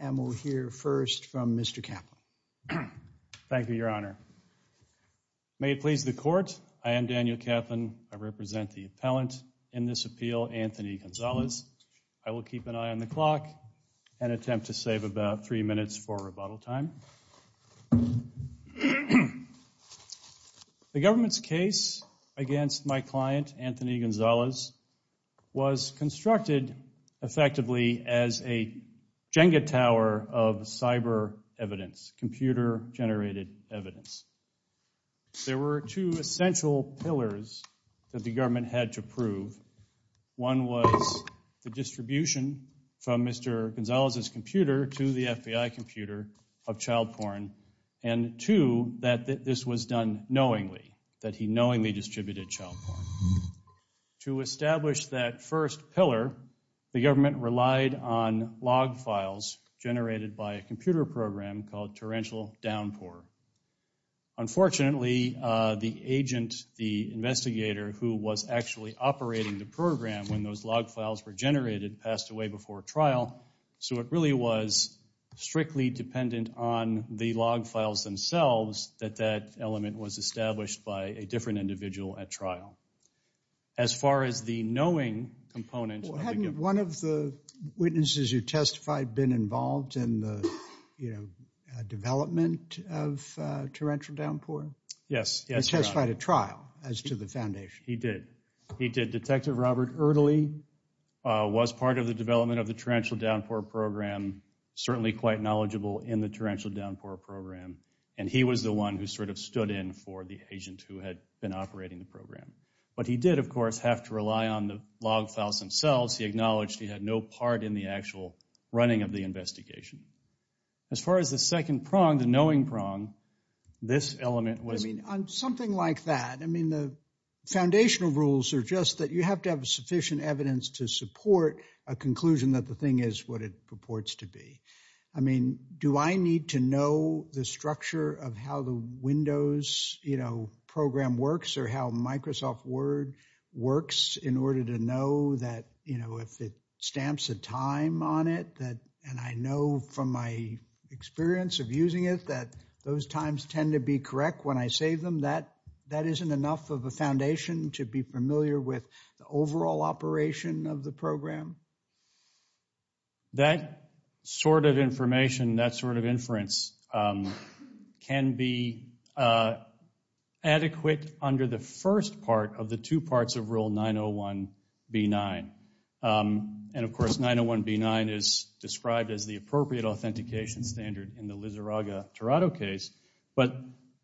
and we'll hear first from Mr. Kaplan. Thank you, Your Honor. May it please the Court, I am Daniel Kaplan. I represent the appellant in this appeal, Anthony Gonzales. I will keep an eye on the clock and attempt to save about three minutes for rebuttal time. The government's case against my client, Anthony Gonzales, was constructed effectively as a Jenga tower of cyber evidence, computer-generated evidence. There were two essential pillars that the Mr. Gonzales' computer to the FBI computer of child porn and two, that this was done knowingly, that he knowingly distributed child porn. To establish that first pillar, the government relied on log files generated by a computer program called Torrential Downpour. Unfortunately, the agent, the investigator who was actually operating the program when those log files were generated, passed away before trial, so it really was strictly dependent on the log files themselves that that element was established by a different individual at trial. As far as the knowing component... Hadn't one of the witnesses you testified been involved in the, you know, development of Torrential Downpour? Yes. He testified at trial as to the foundation. He did. He did. Detective Robert Erdely was part of the development of the Torrential Downpour program, certainly quite knowledgeable in the Torrential Downpour program, and he was the one who sort of stood in for the agent who had been operating the program. But he did, of course, have to rely on the log files themselves. He acknowledged he had no part in the actual running of the investigation. As far as the second prong, the knowing prong, this element was... I mean, on something like that, I mean, the foundational rules are just that you have to have sufficient evidence to support a conclusion that the thing is what it purports to be. I mean, do I need to know the structure of how the Windows, you know, program works or how Microsoft Word works in order to know that, you know, if it stamps a time on it and I know from my experience of using it that those times tend to be correct when I save them, that isn't enough of a foundation to be familiar with the overall operation of the program? That sort of information, that sort of inference can be adequate under the first part of the two appropriate authentication standard in the Lizarraga-Torado case. But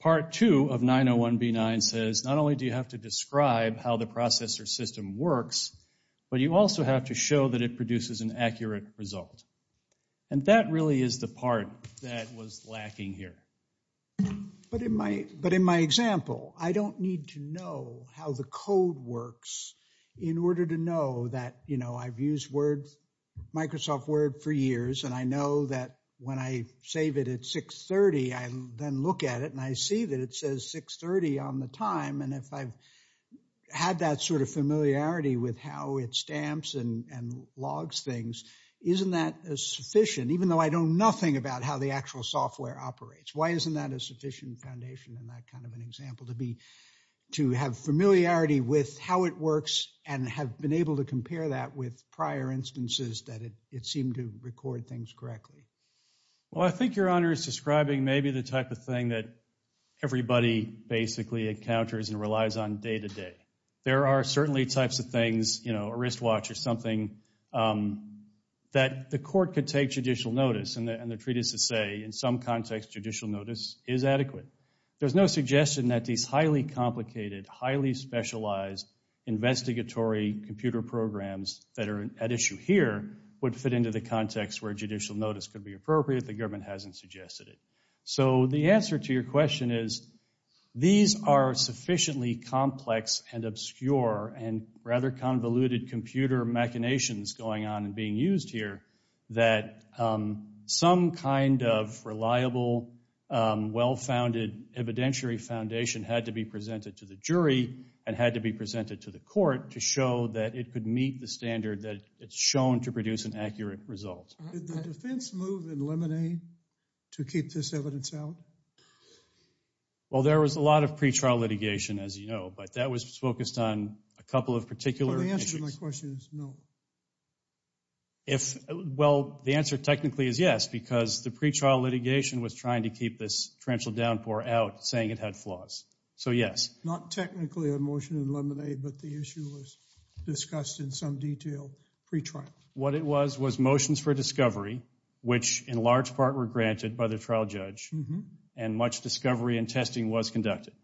part two of 901b9 says not only do you have to describe how the processor system works, but you also have to show that it produces an accurate result. And that really is the part that was lacking here. But in my example, I don't need to know how the code works in order to know that, I've used Microsoft Word for years and I know that when I save it at 630, I then look at it and I see that it says 630 on the time. And if I've had that sort of familiarity with how it stamps and logs things, isn't that sufficient, even though I know nothing about how the actual software operates? Why isn't that a sufficient foundation in that kind of an example to be, to have familiarity with how it works and have been able to compare that with prior instances that it seemed to record things correctly? Well, I think your honor is describing maybe the type of thing that everybody basically encounters and relies on day to day. There are certainly types of things, you know, a wristwatch or something that the court could take judicial notice and they're treated to say in some context, judicial notice is adequate. There's no suggestion that these highly complicated, highly specialized investigatory computer programs that are at issue here would fit into the context where judicial notice could be appropriate. The government hasn't suggested it. So the answer to your question is, these are sufficiently complex and obscure and rather convoluted computer machinations going on and being used here that some kind of reliable, well-founded evidentiary foundation had to be presented to the jury and had to be presented to the court to show that it could meet the standard that it's shown to produce an accurate result. Did the defense move in Lemonade to keep this evidence out? Well, there was a lot of pretrial litigation, as you know, but that was focused on a couple of particular issues. So the answer to my question is no. If, well, the answer technically is yes, because the pretrial litigation was trying to keep this torrential downpour out, saying it had flaws. So yes. Not technically a motion in Lemonade, but the issue was discussed in some detail pretrial. What it was, was motions for discovery, which in large part were granted by the trial judge and much discovery and testing was conducted.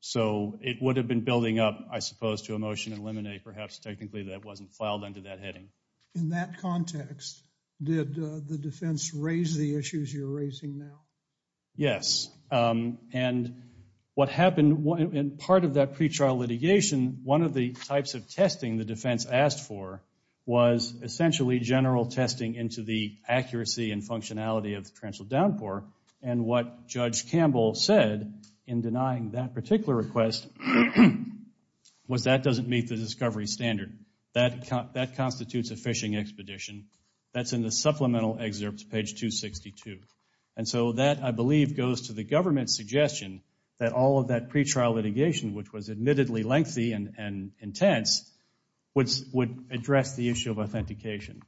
So it would have been building up, I suppose, to a motion in Lemonade, perhaps technically that wasn't filed under that heading. In that context, did the defense raise the issues you're raising now? Yes. And what happened in part of that pretrial litigation, one of the types of testing the essentially general testing into the accuracy and functionality of the torrential downpour. And what Judge Campbell said in denying that particular request was that doesn't meet the discovery standard. That constitutes a fishing expedition. That's in the supplemental excerpt, page 262. And so that, I believe, goes to the government's suggestion that all of that pretrial litigation, which was admittedly lengthy and intense, would address the issue of authentication.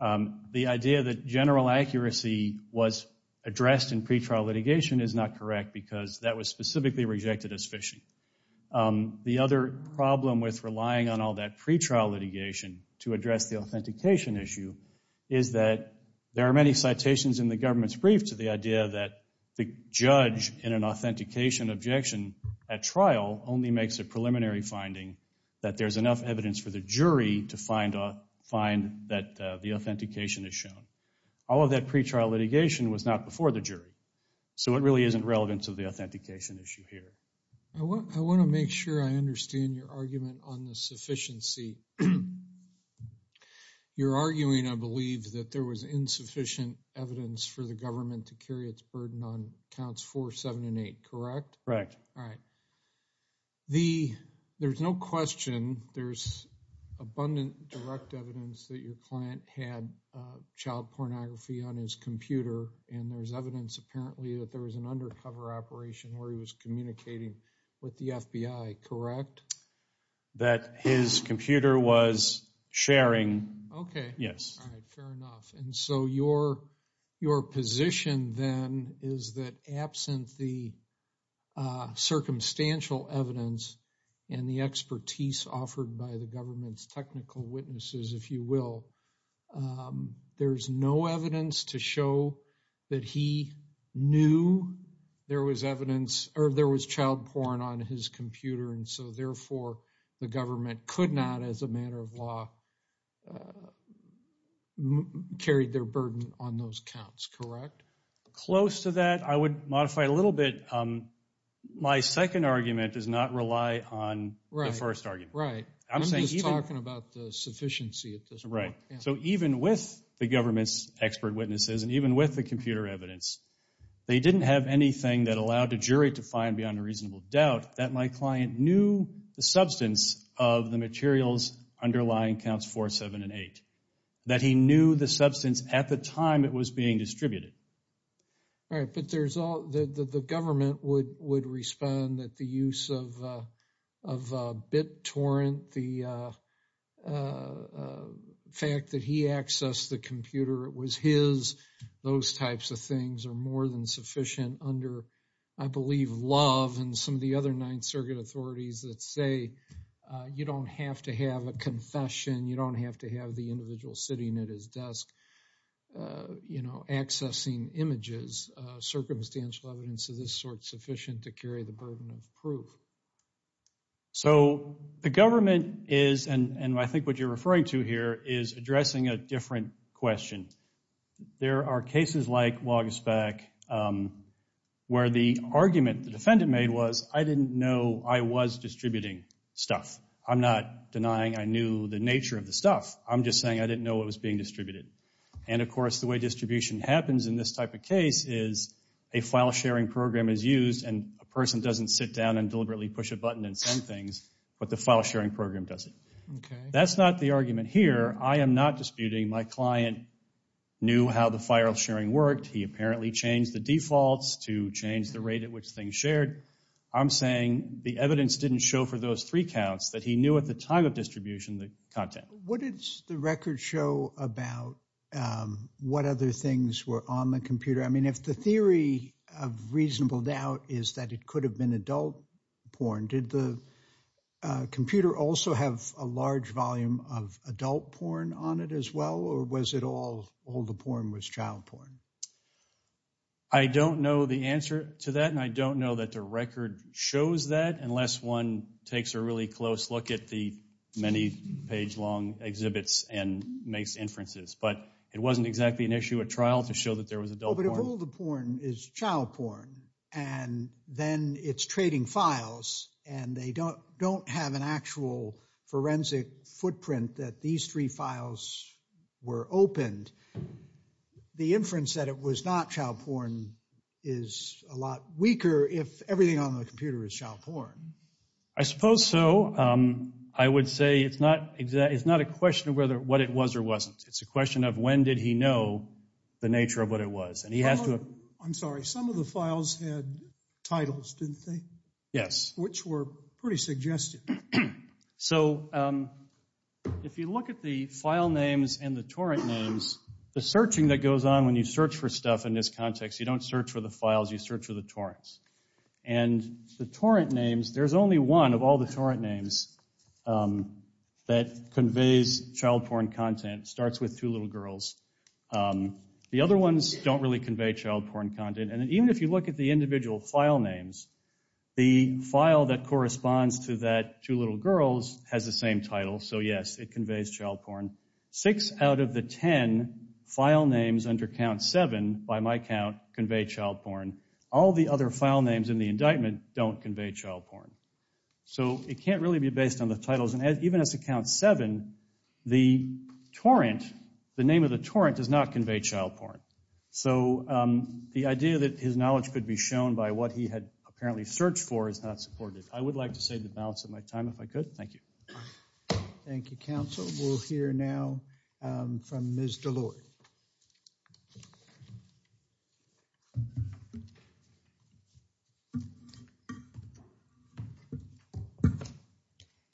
The idea that general accuracy was addressed in pretrial litigation is not correct because that was specifically rejected as fishing. The other problem with relying on all that pretrial litigation to address the authentication issue is that there are many citations in the government's brief to the idea that the judge in an authentication objection at trial only makes a preliminary finding that there's enough evidence for the jury to find that the authentication is shown. All of that pretrial litigation was not before the jury. So it really isn't relevant to the authentication issue here. I want to make sure I understand your argument on the sufficiency. You're arguing, I believe, that there was insufficient evidence for the government to carry its burden on counts four, seven, and eight, correct? Correct. All right. There's no question there's abundant direct evidence that your client had child pornography on his computer and there's evidence apparently that there was an undercover operation where he was communicating with the FBI, correct? That his computer was sharing. Okay. Yes. All right. Fair enough. And so your position then is that absent the circumstantial evidence and the expertise offered by the government's technical witnesses, if you will, there's no evidence to show that he knew there was evidence or there was child porn on his computer. And so therefore, the government could not, as a matter of law, carry their burden on those counts, correct? Close to that. I would modify a little bit. My second argument does not rely on the first argument. Right. I'm just talking about the sufficiency at this point. Right. So even with the government's expert witnesses and even with the computer evidence, they didn't have anything that allowed a jury to find beyond a reasonable doubt that my client knew the substance of the materials underlying counts 4, 7, and 8. That he knew the substance at the time it was being distributed. All right. But there's all, the government would respond that the use of bit torrent, the fact that he accessed the computer, it was his, those types of things are more than sufficient under, I believe, Love and some of the other Ninth Circuit authorities that say, you don't have to have a confession, you don't have to have the individual sitting at his desk, you know, accessing images. Circumstantial evidence of this sort is sufficient to carry the burden of proof. So the government is, and I think what you're referring to here, is addressing a different question. There are cases like Wagespac where the argument the defendant made was, I didn't know I was distributing stuff. I'm not denying I knew the nature of the stuff. I'm just saying I didn't know it was being distributed. And of course, the way distribution happens in this type of case is a file sharing program is used and a person doesn't sit down and deliberately push a button and send things, but the file sharing program does it. Okay. That's not the argument here. I am not disputing my client knew how the file sharing worked. He apparently changed the defaults to change the rate at which things shared. I'm saying the evidence didn't show for those three counts that he knew at the time of distribution the content. What did the record show about what other things were on the computer? I mean, if the theory of reasonable doubt is that it could have been adult porn, did the computer also have a large volume of adult porn on it as well? Or was it all the porn was child porn? I don't know the answer to that. And I don't know that the record shows that unless one takes a really close look at the many page long exhibits and makes inferences. But it wasn't exactly an issue at trial to show that there was adult porn. All the porn is child porn, and then it's trading files, and they don't have an actual forensic footprint that these three files were opened. The inference that it was not child porn is a lot weaker if everything on the computer is child porn. I suppose so. I would say it's not a question of whether what it was or wasn't. It's a question of when did he know the nature of what it was? I'm sorry. Some of the files had titles, didn't they? Yes. Which were pretty suggestive. So if you look at the file names and the torrent names, the searching that goes on when you search for stuff in this context, you don't search for the files, you search for the torrents. And the torrent names, there's only one of all the torrent names that conveys child porn content. It starts with two little girls. The other ones don't really convey child porn content. And even if you look at the individual file names, the file that corresponds to that two little girls has the same title. So yes, it conveys child porn. Six out of the ten file names under count seven by my count convey child porn. All the other file names in the indictment don't convey child porn. So it can't really be based on the titles. Even as to count seven, the torrent, the name of the torrent does not convey child porn. So the idea that his knowledge could be shown by what he had apparently searched for is not supported. I would like to save the balance of my time if I could. Thank you. Thank you, counsel. We'll hear now from Ms. DeLoy.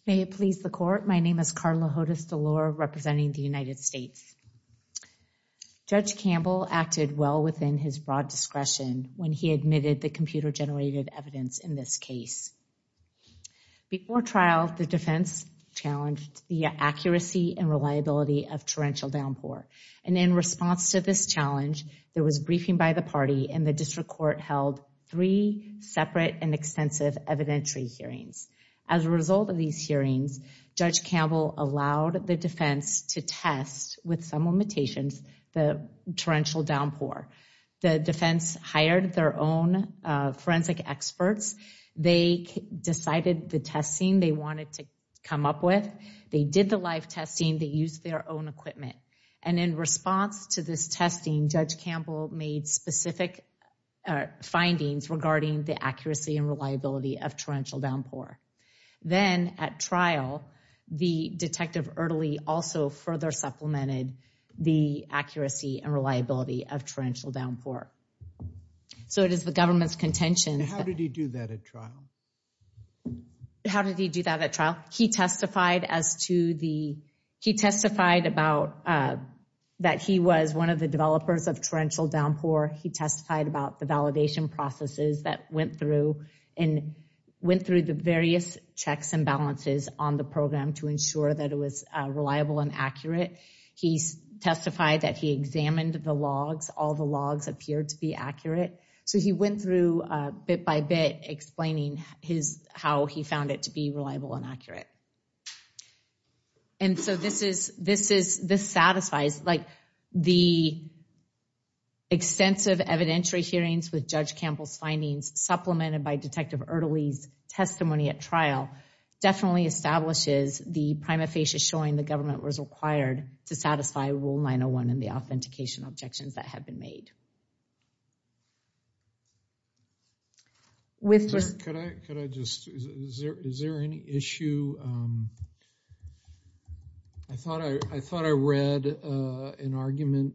May it please the court. My name is Carla Hodes DeLoy representing the United States. Judge Campbell acted well within his broad discretion when he admitted the computer generated evidence in this case. Before trial, the defense challenged the accuracy and reliability of torrential downpour. In response to this challenge, there was briefing by the party and the district court held three separate and extensive evidentiary hearings. As a result of these hearings, Judge Campbell allowed the defense to test with some limitations the torrential downpour. The defense hired their own forensic experts. They decided the testing they wanted to come up with. They did the live testing. They used their own equipment. And in response to this testing, Judge Campbell made specific findings regarding the accuracy and reliability of torrential downpour. Then at trial, the Detective Erdely also further supplemented the accuracy and reliability of torrential downpour. So it is the government's contention. How did he do that at trial? How did he do that at trial? He testified that he was one of the developers of torrential downpour. He testified about the validation processes that went through and went through the various checks and balances on the program to ensure that it was reliable and accurate. He testified that he examined the logs. All the logs appeared to be accurate. So he went through bit by bit explaining how he found it to be reliable and accurate. And so this satisfies like the extensive evidentiary hearings with Judge Campbell's findings supplemented by Detective Erdely's testimony at trial definitely establishes the prima facie showing the government was required to satisfy Rule 901 and the authentication objections that have been made. With this, could I, could I just, is there any issue? I thought I, I thought I read an argument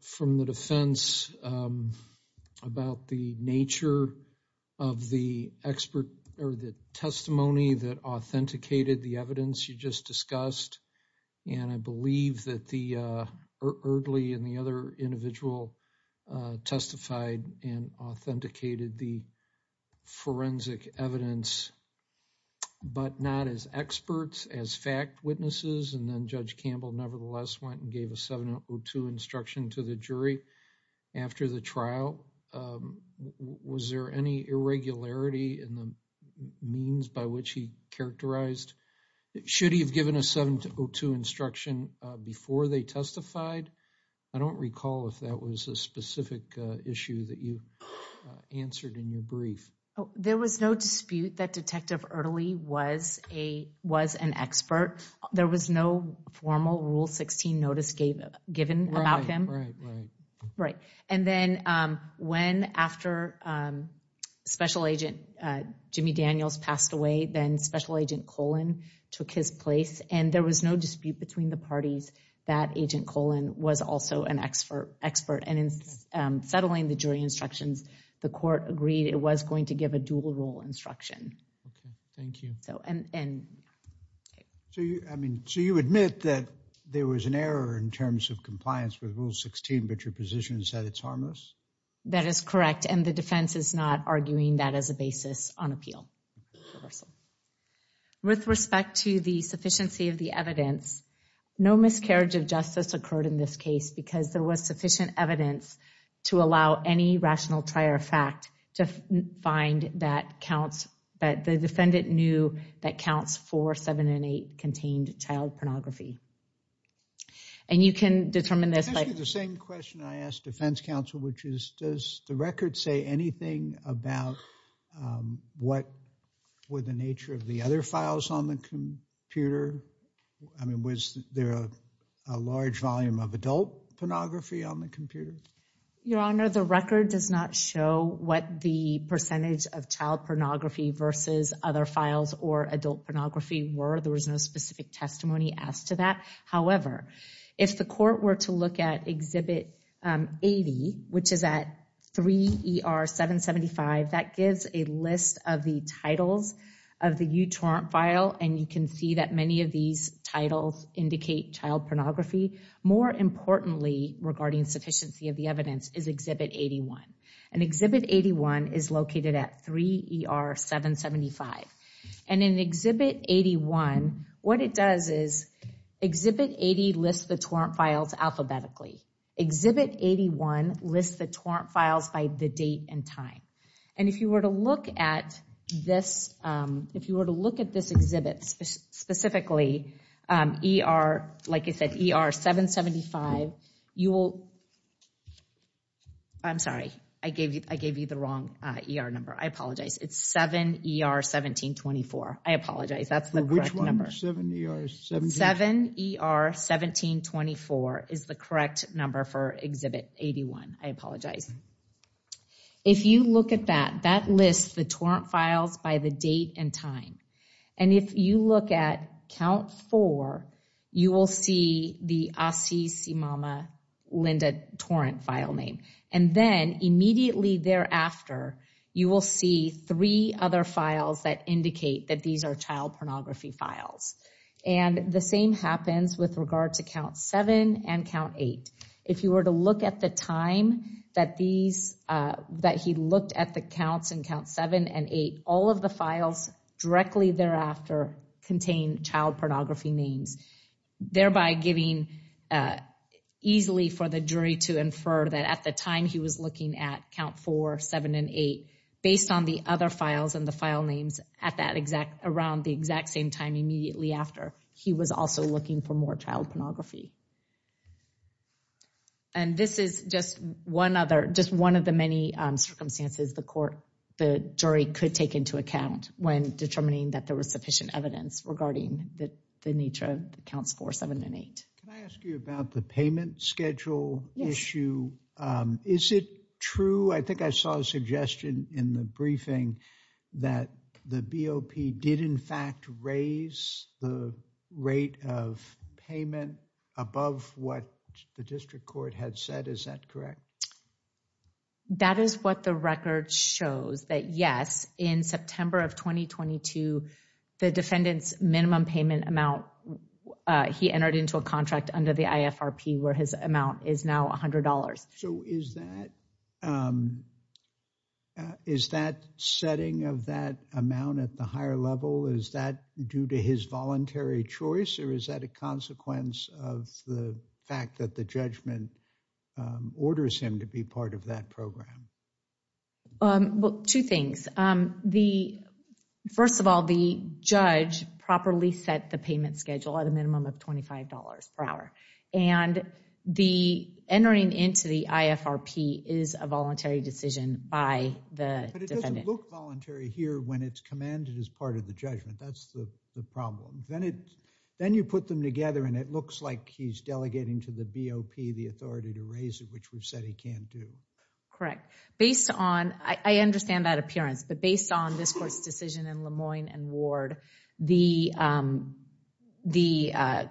from the defense about the nature of the expert or the testimony that authenticated the evidence you just discussed. And I believe that the Erdely and the other individual testified and authenticated the forensic evidence, but not as experts, as fact witnesses. And then Judge Campbell nevertheless went and gave a 702 instruction to the jury after the trial. Was there any irregularity in the means by which he characterized? Should he have given a 702 instruction before they testified? I don't recall if that was a specific issue that you answered in your brief. There was no dispute that Detective Erdely was a, was an expert. There was no formal Rule 16 notice given about him. Right. And then when, after Special Agent Jimmy Daniels passed away, then Special Agent Colon took his place. And there was no dispute between the parties that Agent Colon was also an expert, expert. And in settling the jury instructions, the court agreed it was going to give a dual rule instruction. Okay. Thank you. So, and, and. So you, I mean, so you admit that there was an error in terms of compliance with Rule 16, but your position is that it's harmless? That is correct. And the defense is not arguing that as a basis on appeal. With respect to the sufficiency of the evidence, no miscarriage of justice occurred in this case because there was sufficient evidence to allow any rational trier of fact to find that counts, that the defendant knew that counts 4, 7, and 8 contained child pornography. And you can determine this by. It's actually the same question I asked defense counsel, which is, does the record say anything about what were the nature of the other files on the computer? I mean, was there a large volume of adult pornography on the computer? Your Honor, the record does not show what the percentage of child pornography versus other files or adult pornography were. There was no specific testimony asked to that. However, if the court were to look at Exhibit 80, which is at 3 ER 775, that gives a list of the titles of the uTorrent file. And you can see that many of these titles indicate child pornography. More importantly, regarding sufficiency of the evidence is Exhibit 81. And Exhibit 81 is located at 3 ER 775. And in Exhibit 81, what it does is Exhibit 80 lists the torrent files alphabetically. Exhibit 81 lists the torrent files by the date and time. And if you were to look at this, if you were to look at this exhibit specifically, ER, like I said, ER 775, you will. I'm sorry. I gave you the wrong ER number. I apologize. It's 7 ER 1724. I apologize. That's the correct number. 7 ER 1724 is the correct number for Exhibit 81. I apologize. If you look at that, that lists the torrent files by the date and time. And if you look at count four, you will see the Asi Simama Linda torrent file name. And then immediately thereafter, you will see three other files that indicate that these are child pornography files. And the same happens with regard to count seven and count eight. If you were to look at the time that he looked at the counts in count seven and eight, all of the files directly thereafter contain child pornography names, thereby giving easily for the jury to infer that at the time he was looking at count four, seven, and eight, based on the other files and the file names around the exact same time immediately after, he was also looking for more child pornography. And this is just one of the many circumstances the jury could take into account when determining that there was sufficient evidence regarding the nature of counts four, seven, and eight. Can I ask you about the payment schedule issue? Is it true? I think I saw a suggestion in the briefing that the BOP did, in fact, raise the rate of payment above what the district court had said. Is that correct? That is what the record shows, that yes, in September of 2022, the defendant's minimum contract under the IFRP where his amount is now $100. So is that setting of that amount at the higher level, is that due to his voluntary choice or is that a consequence of the fact that the judgment orders him to be part of that program? Well, two things. The first of all, the judge properly set the payment schedule at a minimum of $25 per hour. And the entering into the IFRP is a voluntary decision by the defendant. But it doesn't look voluntary here when it's commanded as part of the judgment. That's the problem. Then you put them together and it looks like he's delegating to the BOP the authority to raise it, which we've said he can't do. Correct. Based on, I understand that appearance, but based on this court's decision in Lemoyne and Ward, the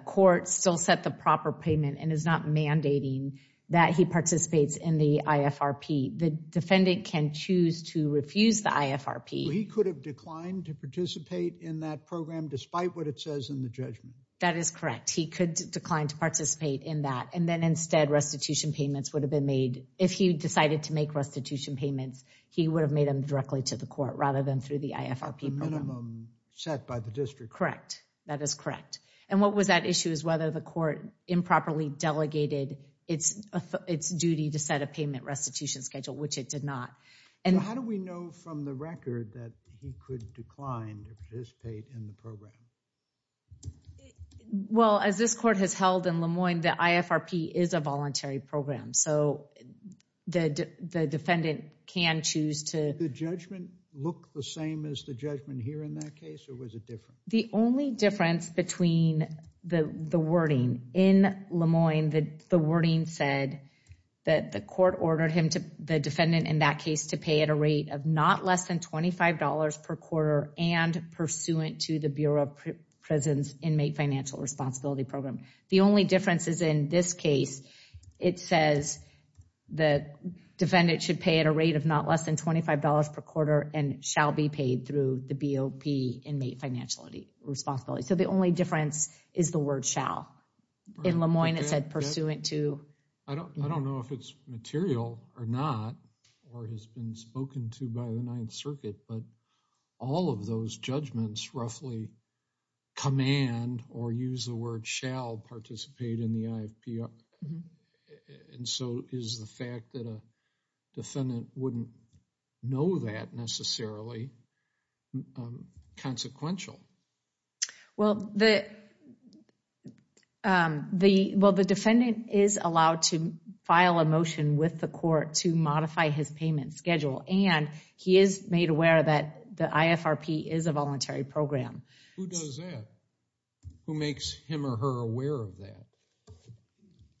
court still set the proper payment and is not mandating that he participates in the IFRP. The defendant can choose to refuse the IFRP. He could have declined to participate in that program despite what it says in the judgment. That is correct. He could decline to participate in that. Then instead, restitution payments would have been made. If he decided to make restitution payments, he would have made them directly to the court rather than through the IFRP. At the minimum set by the district. Correct. That is correct. What was that issue is whether the court improperly delegated its duty to set a payment restitution schedule, which it did not. How do we know from the record that he could decline to participate in the program? Well, as this court has held in Lemoyne, the IFRP is a voluntary program. So, the defendant can choose to. Did the judgment look the same as the judgment here in that case, or was it different? The only difference between the wording in Lemoyne, the wording said that the court ordered him to, the defendant in that case, to pay at a rate of not less than $25 per quarter and pursuant to the Bureau of Prisons Inmate Financial Responsibility Program. The only difference is in this case, it says the defendant should pay at a rate of not less than $25 per quarter and shall be paid through the BOP Inmate Financial Responsibility. So, the only difference is the word shall. In Lemoyne, it said pursuant to. I don't know if it's material or not, or has been spoken to by the Ninth Circuit, but all of those judgments roughly command, or use the word shall, participate in the IFPR. And so, is the fact that a defendant wouldn't know that necessarily consequential? Well, the defendant is allowed to file a motion with the court to modify his payment schedule, and he is made aware that the IFRP is a voluntary program. Who does that? Who makes him or her aware of that?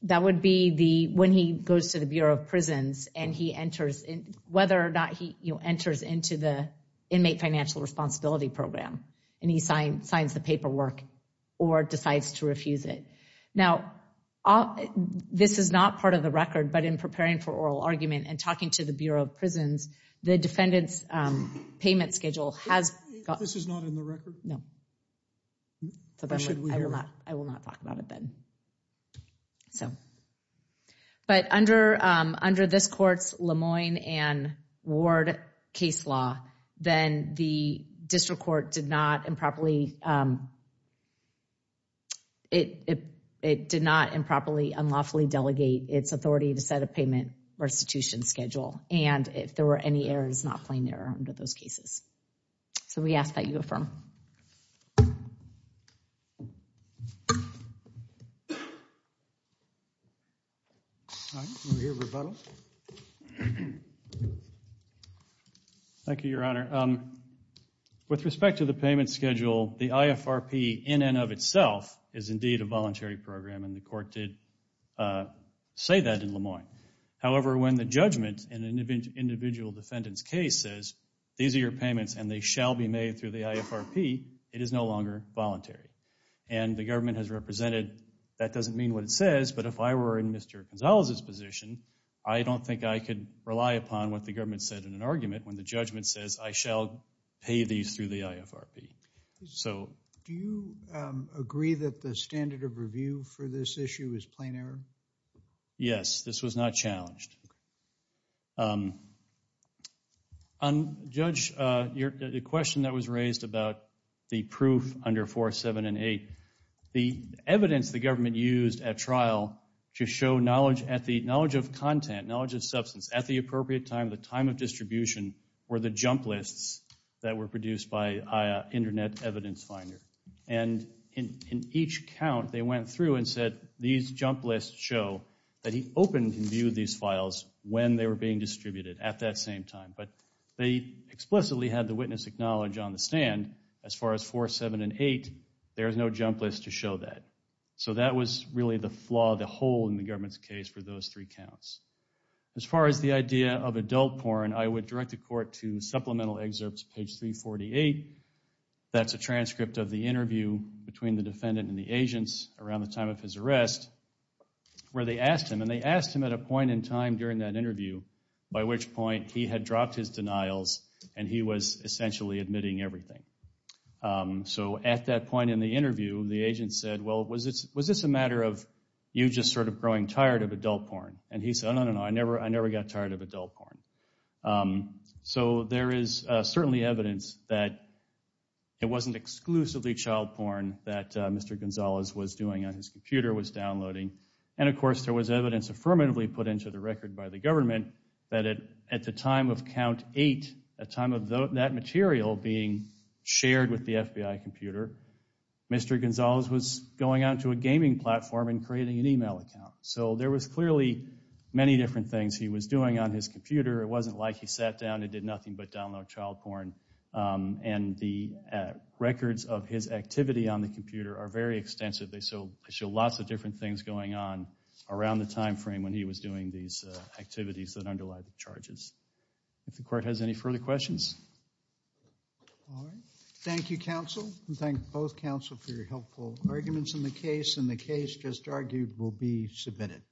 That would be the, when he goes to the Bureau of Prisons and he enters, whether or not he enters into the Inmate Financial Responsibility Program, and he signs the paperwork or decides to refuse it. Now, this is not part of the record, but in preparing for oral argument and talking to Bureau of Prisons, the defendant's payment schedule has. This is not in the record? No. I will not talk about it then. So, but under this court's Lemoyne and Ward case law, then the district court did not improperly, it did not improperly, unlawfully delegate its authority to set a payment restitution schedule, and if there were any errors, not plain error under those cases. So we ask that you affirm. Thank you, Your Honor. With respect to the payment schedule, the IFRP in and of itself is indeed a voluntary program, and the court did say that in Lemoyne. However, when the judgment in an individual defendant's case says, these are your payments and they shall be made through the IFRP, it is no longer voluntary. And the government has represented, that doesn't mean what it says, but if I were in Mr. Gonzalez's position, I don't think I could rely upon what the government said in an argument when the judgment says, I shall pay these through the IFRP. So do you agree that the standard of review for this issue is plain error? Yes, this was not challenged. On, Judge, the question that was raised about the proof under 4, 7, and 8, the evidence the government used at trial to show knowledge of content, knowledge of substance, at the appropriate time, the time of distribution, were the jump lists that were produced by that he opened and viewed these files when they were being distributed at that same time. But they explicitly had the witness acknowledge on the stand, as far as 4, 7, and 8, there is no jump list to show that. So that was really the flaw, the hole in the government's case for those three counts. As far as the idea of adult porn, I would direct the court to supplemental excerpts, page 348, that's a transcript of the interview between the defendant and the agents around the time of his arrest, where they asked him, and they asked him at a point in time during that interview, by which point he had dropped his denials and he was essentially admitting everything. So at that point in the interview, the agent said, well, was this a matter of you just sort of growing tired of adult porn? And he said, no, no, no, I never got tired of adult porn. So there is certainly evidence that it wasn't exclusively child porn that Mr. Gonzalez was doing on his computer, was downloading. And, of course, there was evidence affirmatively put into the record by the government that at the time of count 8, at the time of that material being shared with the FBI computer, Mr. Gonzalez was going out to a gaming platform and creating an email account. So there was clearly many different things he was doing on his computer. It wasn't like he sat down and did nothing but download child porn. And the records of his activity on the computer are very extensive. They show lots of different things going on around the time frame when he was doing these activities that underlie the charges. If the court has any further questions. All right. Thank you, counsel. And thank both counsel for your helpful arguments in the case. And the case just argued will be submitted.